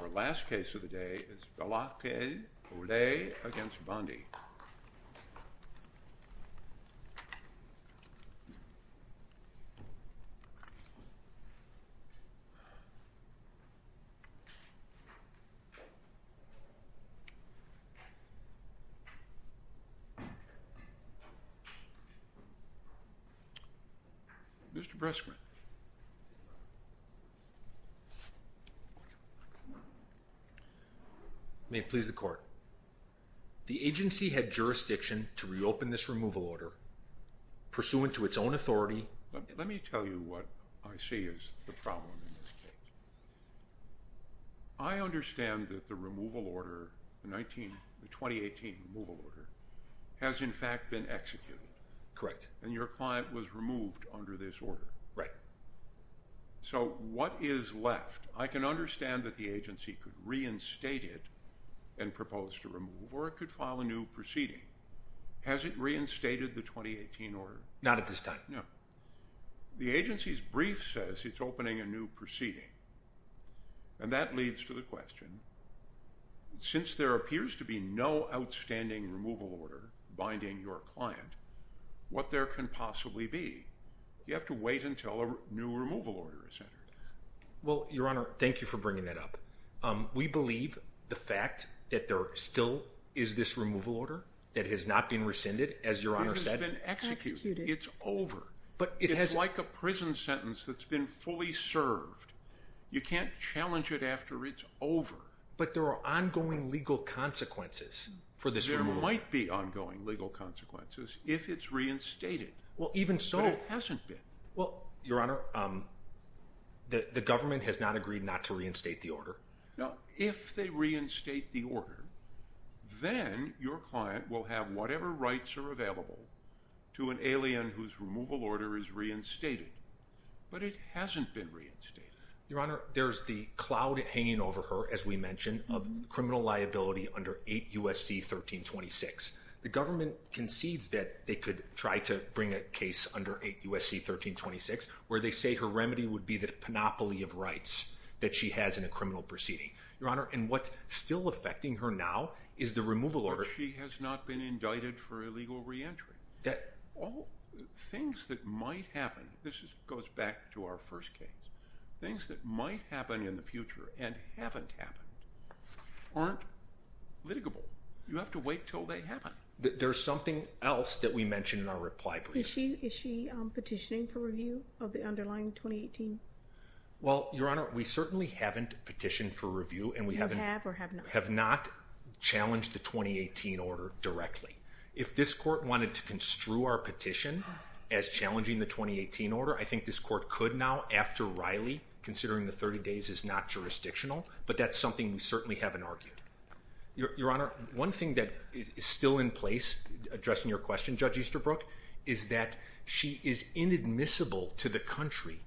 Our last case of the day is Velazquez Olais v. Bondi. Mr. Breskman May it please the court. The agency had jurisdiction to reopen this removal order pursuant to its own authority. Let me tell you what I see is the problem in this case. I understand that the removal order, the 2018 removal order, has in fact been executed. Correct. And your client was removed under this order. Right. So what is left? I can understand that the agency could reinstate it and propose to remove or it could file a new proceeding. Has it reinstated the 2018 order? Not at this time. No. The agency's brief says it's opening a new proceeding. And that leads to the question, since there appears to be no outstanding removal order binding your client, what there can possibly be? You have to wait until a new removal order is entered. Well, Your Honor, thank you for bringing that up. We believe the fact that there still is this removal order that has not been rescinded as Your Honor said. It's been executed. It's over. But it has... It's like a prison sentence that's been fully served. You can't challenge it after it's over. But there are ongoing legal consequences for this removal order. There might be ongoing legal consequences if it's reinstated. Well even so... But it hasn't been. Well, Your Honor, the government has not agreed not to reinstate the order. If they reinstate the order, then your client will have whatever rights are available to an alien whose removal order is reinstated. But it hasn't been reinstated. Your Honor, there's the cloud hanging over her, as we mentioned, of criminal liability under 8 U.S.C. 1326. The government concedes that they could try to bring a case under 8 U.S.C. 1326 where they say her remedy would be the panoply of rights that she has in a criminal proceeding. Your Honor, and what's still affecting her now is the removal order... But she has not been indicted for illegal reentry. Things that might happen, this goes back to our first case. Things that might happen in the future and haven't happened aren't litigable. You have to wait until they happen. There's something else that we mentioned in our reply brief. Is she petitioning for review of the underlying 2018? Well, Your Honor, we certainly haven't petitioned for review and we have not challenged the 2018 order directly. If this court wanted to construe our petition as challenging the 2018 order, I think this court could now after Riley, considering the 30 days is not jurisdictional, but that's something we certainly haven't argued. Your Honor, one thing that is still in place, addressing your question, Judge Easterbrook, is that she is inadmissible to the country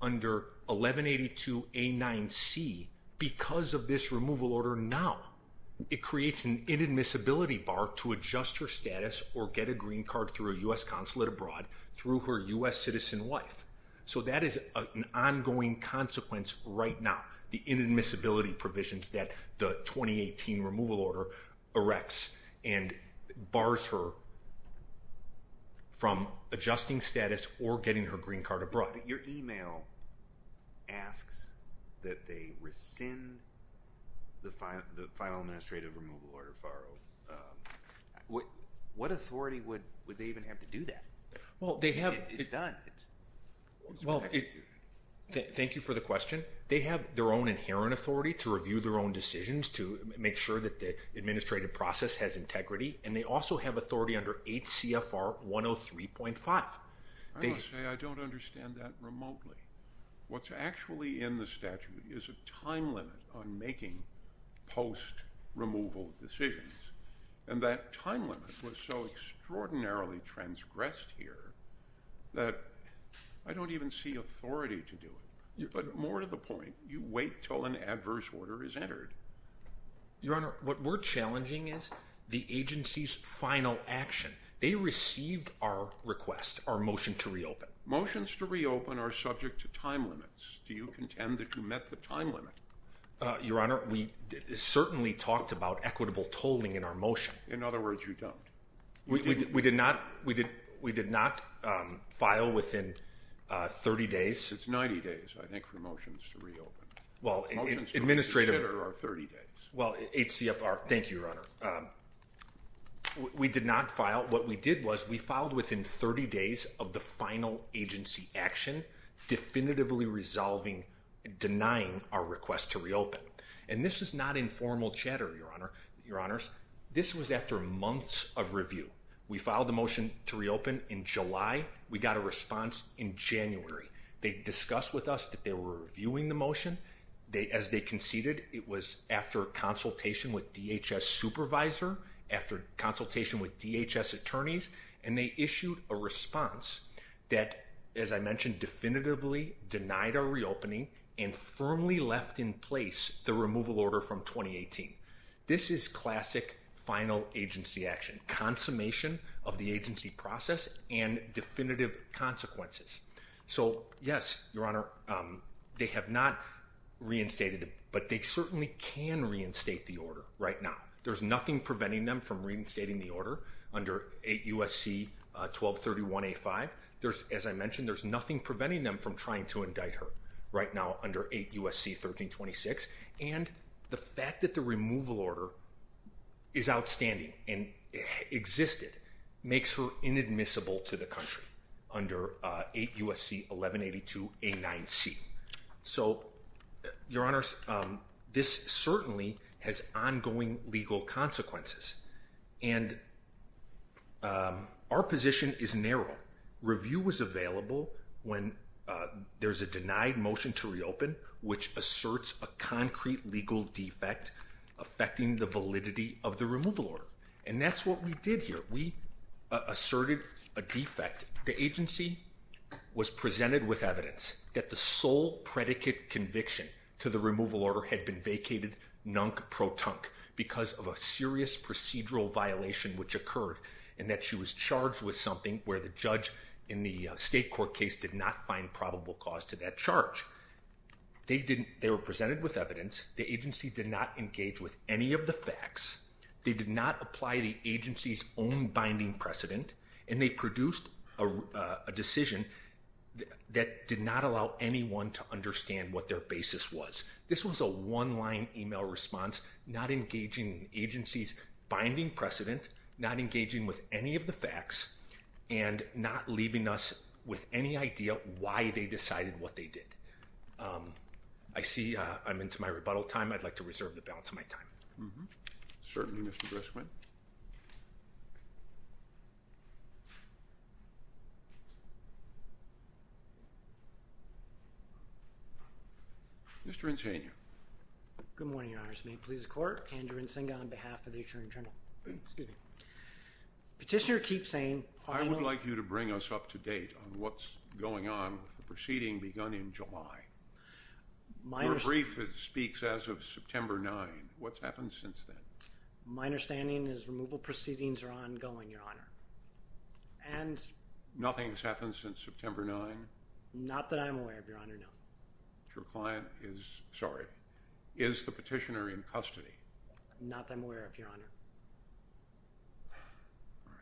under 1182A9C because of this removal order now. It creates an inadmissibility bar to adjust her status or get a green card through a U.S. consulate abroad through her U.S. citizen wife. So that is an ongoing consequence right now. The inadmissibility provisions that the 2018 removal order erects and bars her from adjusting status or getting her green card abroad. Your email asks that they rescind the final administrative removal order far out. What authority would they even have to do that? It's done. Thank you for the question. They have their own inherent authority to review their own decisions, to make sure that the administrative process has integrity, and they also have authority under 8 CFR 103.5. I don't understand that remotely. What's actually in the statute is a time limit on making post-removal decisions. And that time limit was so extraordinarily transgressed here that I don't even see authority to do it. But more to the point, you wait until an adverse order is entered. Your Honor, what we're challenging is the agency's final action. They received our request, our motion to reopen. Motions to reopen are subject to time limits. Do you contend that you met the time limit? Your Honor, we certainly talked about equitable tolling in our motion. In other words, you don't. We did not file within 30 days. It's 90 days, I think, for motions to reopen. Motions to reconsider are 30 days. Well, 8 CFR. Thank you, Your Honor. We did not file. What we did was we filed within 30 days of the final agency action definitively resolving and denying our request to reopen. And this is not informal chatter, Your Honor. This was after months of review. We filed the motion to reopen in July. We got a response in January. They discussed with us that they were reviewing the motion. As they conceded, it was after a consultation with DHS supervisor, after consultation with DHS attorneys, and they issued a response that, as I mentioned, definitively denied our reopening and firmly left in place the removal order from 2018. This is classic final agency action, consummation of the agency process and definitive consequences. So, yes, Your Honor, they have not reinstated it, but they certainly can reinstate the order right now. There's nothing preventing them from reinstating the order under 8 U.S.C. 1231A5. As I mentioned, there's nothing preventing them from trying to indict her right now under 8 U.S.C. 1326. And the fact that the removal order is outstanding and existed makes her inadmissible to the country under 8 U.S.C. 1182A9C. So, Your Honors, this certainly has ongoing legal consequences. And our position is narrow. Review was available when there's a denied motion to reopen, which asserts a concrete legal defect affecting the validity of the removal order. And that's what we did here. We asserted a defect. The agency was presented with evidence that the sole predicate conviction to the removal order had been vacated, nunk, pro-tunk, because of a serious procedural violation which occurred, and that she was charged with something where the judge in the state court case did not find probable cause to that charge. They were presented with evidence. The agency did not engage with any of the facts. They did not apply the agency's own binding precedent. And they produced a decision that did not allow anyone to understand what their basis was. This was a one-line email response, not engaging agencies' binding precedent, not engaging with any of the facts, and not leaving us with any idea why they decided what they did. I see I'm into my rebuttal time. I'd like to reserve the balance of my time. Certainly, Mr. Grisswin. Mr. Insania. Good morning, Your Honors. May it please the Court. Andrew Insania on behalf of the Attorney General. Excuse me. Petitioner keeps saying— I would like you to bring us up to date on what's going on with the proceeding begun in July. Your brief speaks as of September 9. What's happened since then? My understanding is removal proceedings are ongoing, Your Honor. And— Nothing has happened since September 9? Not that I'm aware of, Your Honor, no. Your client is—sorry. Is the petitioner in custody? Not that I'm aware of, Your Honor. All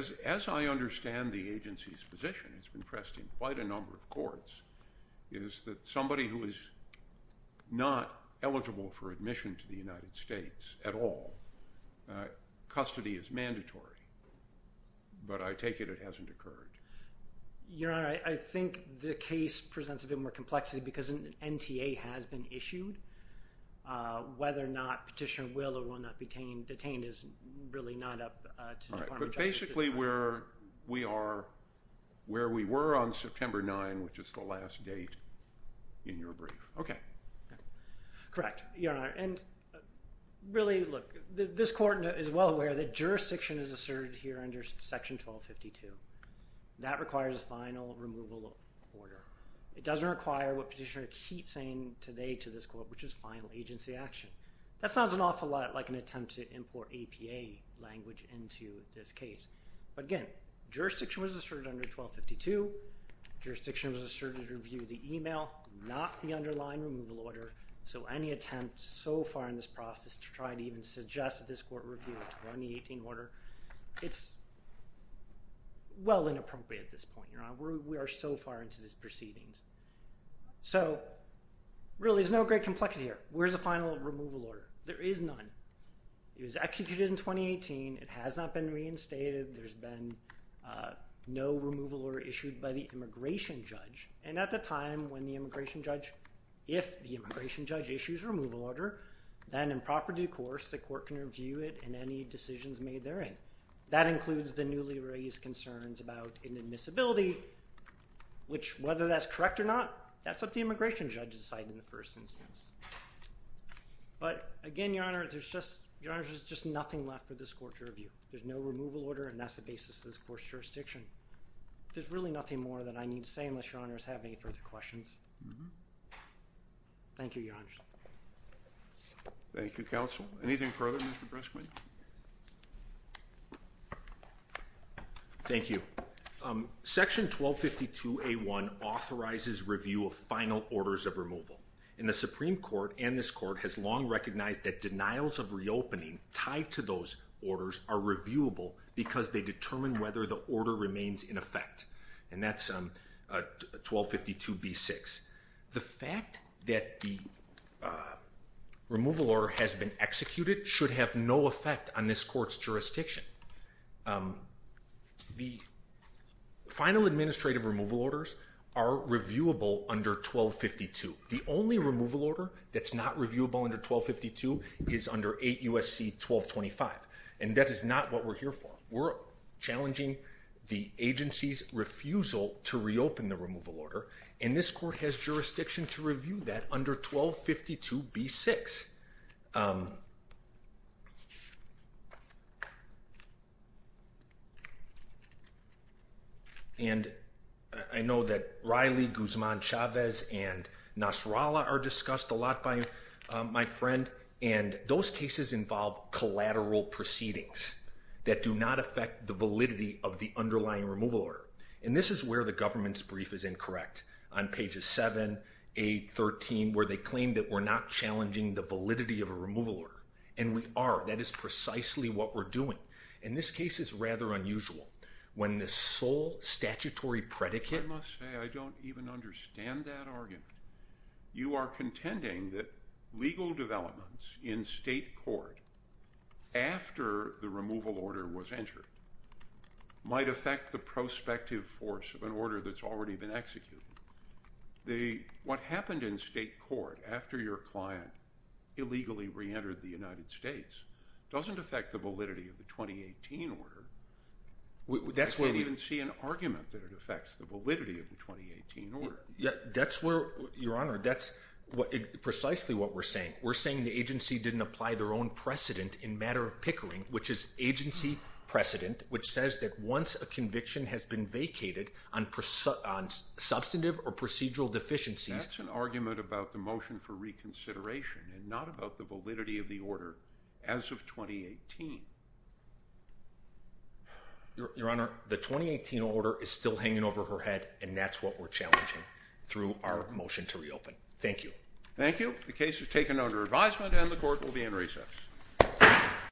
right. As I understand the agency's position, it's been pressed in quite a number of courts, is that somebody who is not eligible for admission to the United States at all, custody is mandatory. But I take it it hasn't occurred. Your Honor, I think the case presents a bit more complexity because an NTA has been issued. Whether or not petitioner will or will not be detained is really not up to the Department of Justice. That's basically where we are—where we were on September 9, which is the last date in your brief. Correct, Your Honor. And really, look, this court is well aware that jurisdiction is asserted here under Section 1252. That requires a final removal order. It doesn't require what petitioner keeps saying today to this court, which is final agency action. That sounds an awful lot like an attempt to import APA language into this case. But again, jurisdiction was asserted under 1252. Jurisdiction was asserted to review the email, not the underlying removal order. So any attempt so far in this process to try to even suggest that this court review a 2018 order, it's well inappropriate at this point, Your Honor. We are so far into this proceedings. So really, there's no great complexity here. But where's the final removal order? There is none. It was executed in 2018. It has not been reinstated. There's been no removal order issued by the immigration judge. And at the time when the immigration judge—if the immigration judge issues a removal order, then in proper due course, the court can review it and any decisions made therein. That includes the newly raised concerns about inadmissibility, which whether that's correct or not, that's up to the immigration judge to decide in the first instance. But again, Your Honor, there's just nothing left for this court to review. There's no removal order, and that's the basis of this court's jurisdiction. There's really nothing more that I need to say unless Your Honors have any further questions. Thank you, Your Honors. Thank you, counsel. Anything further, Mr. Breskman? Thank you. Section 1252A1 authorizes review of final orders of removal. And the Supreme Court and this court has long recognized that denials of reopening tied to those orders are reviewable because they determine whether the order remains in effect. And that's 1252B6. The fact that the removal order has been executed should have no effect on this court's jurisdiction. The final administrative removal orders are reviewable under 1252. The only removal order that's not reviewable under 1252 is under 8 U.S.C. 1225. And that is not what we're here for. We're challenging the agency's refusal to reopen the removal order, and this court has jurisdiction to review that under 1252B6. And I know that Riley, Guzman, Chavez, and Nasrallah are discussed a lot by my friend, and those cases involve collateral proceedings that do not affect the validity of the underlying removal order. And this is where the government's brief is incorrect. On pages 7, 8, 13, where they claim that we're not challenging the validity of a removal order. And we are. That is precisely what we're doing. And this case is rather unusual. When the sole statutory predicate— I must say, I don't even understand that argument. You are contending that legal developments in state court after the removal order was entered might affect the prospective force of an order that's already been executed. What happened in state court after your client illegally reentered the United States doesn't affect the validity of the 2018 order. I can't even see an argument that it affects the validity of the 2018 order. Your Honor, that's precisely what we're saying. We're saying the agency didn't apply their own precedent in matter of pickering, which is agency precedent, which says that once a conviction has been vacated on substantive or procedural deficiencies— That's an argument about the motion for reconsideration and not about the validity of the order as of 2018. Your Honor, the 2018 order is still hanging over her head, and that's what we're challenging through our motion to reopen. Thank you. Thank you. The case is taken under advisement, and the court will be in recess.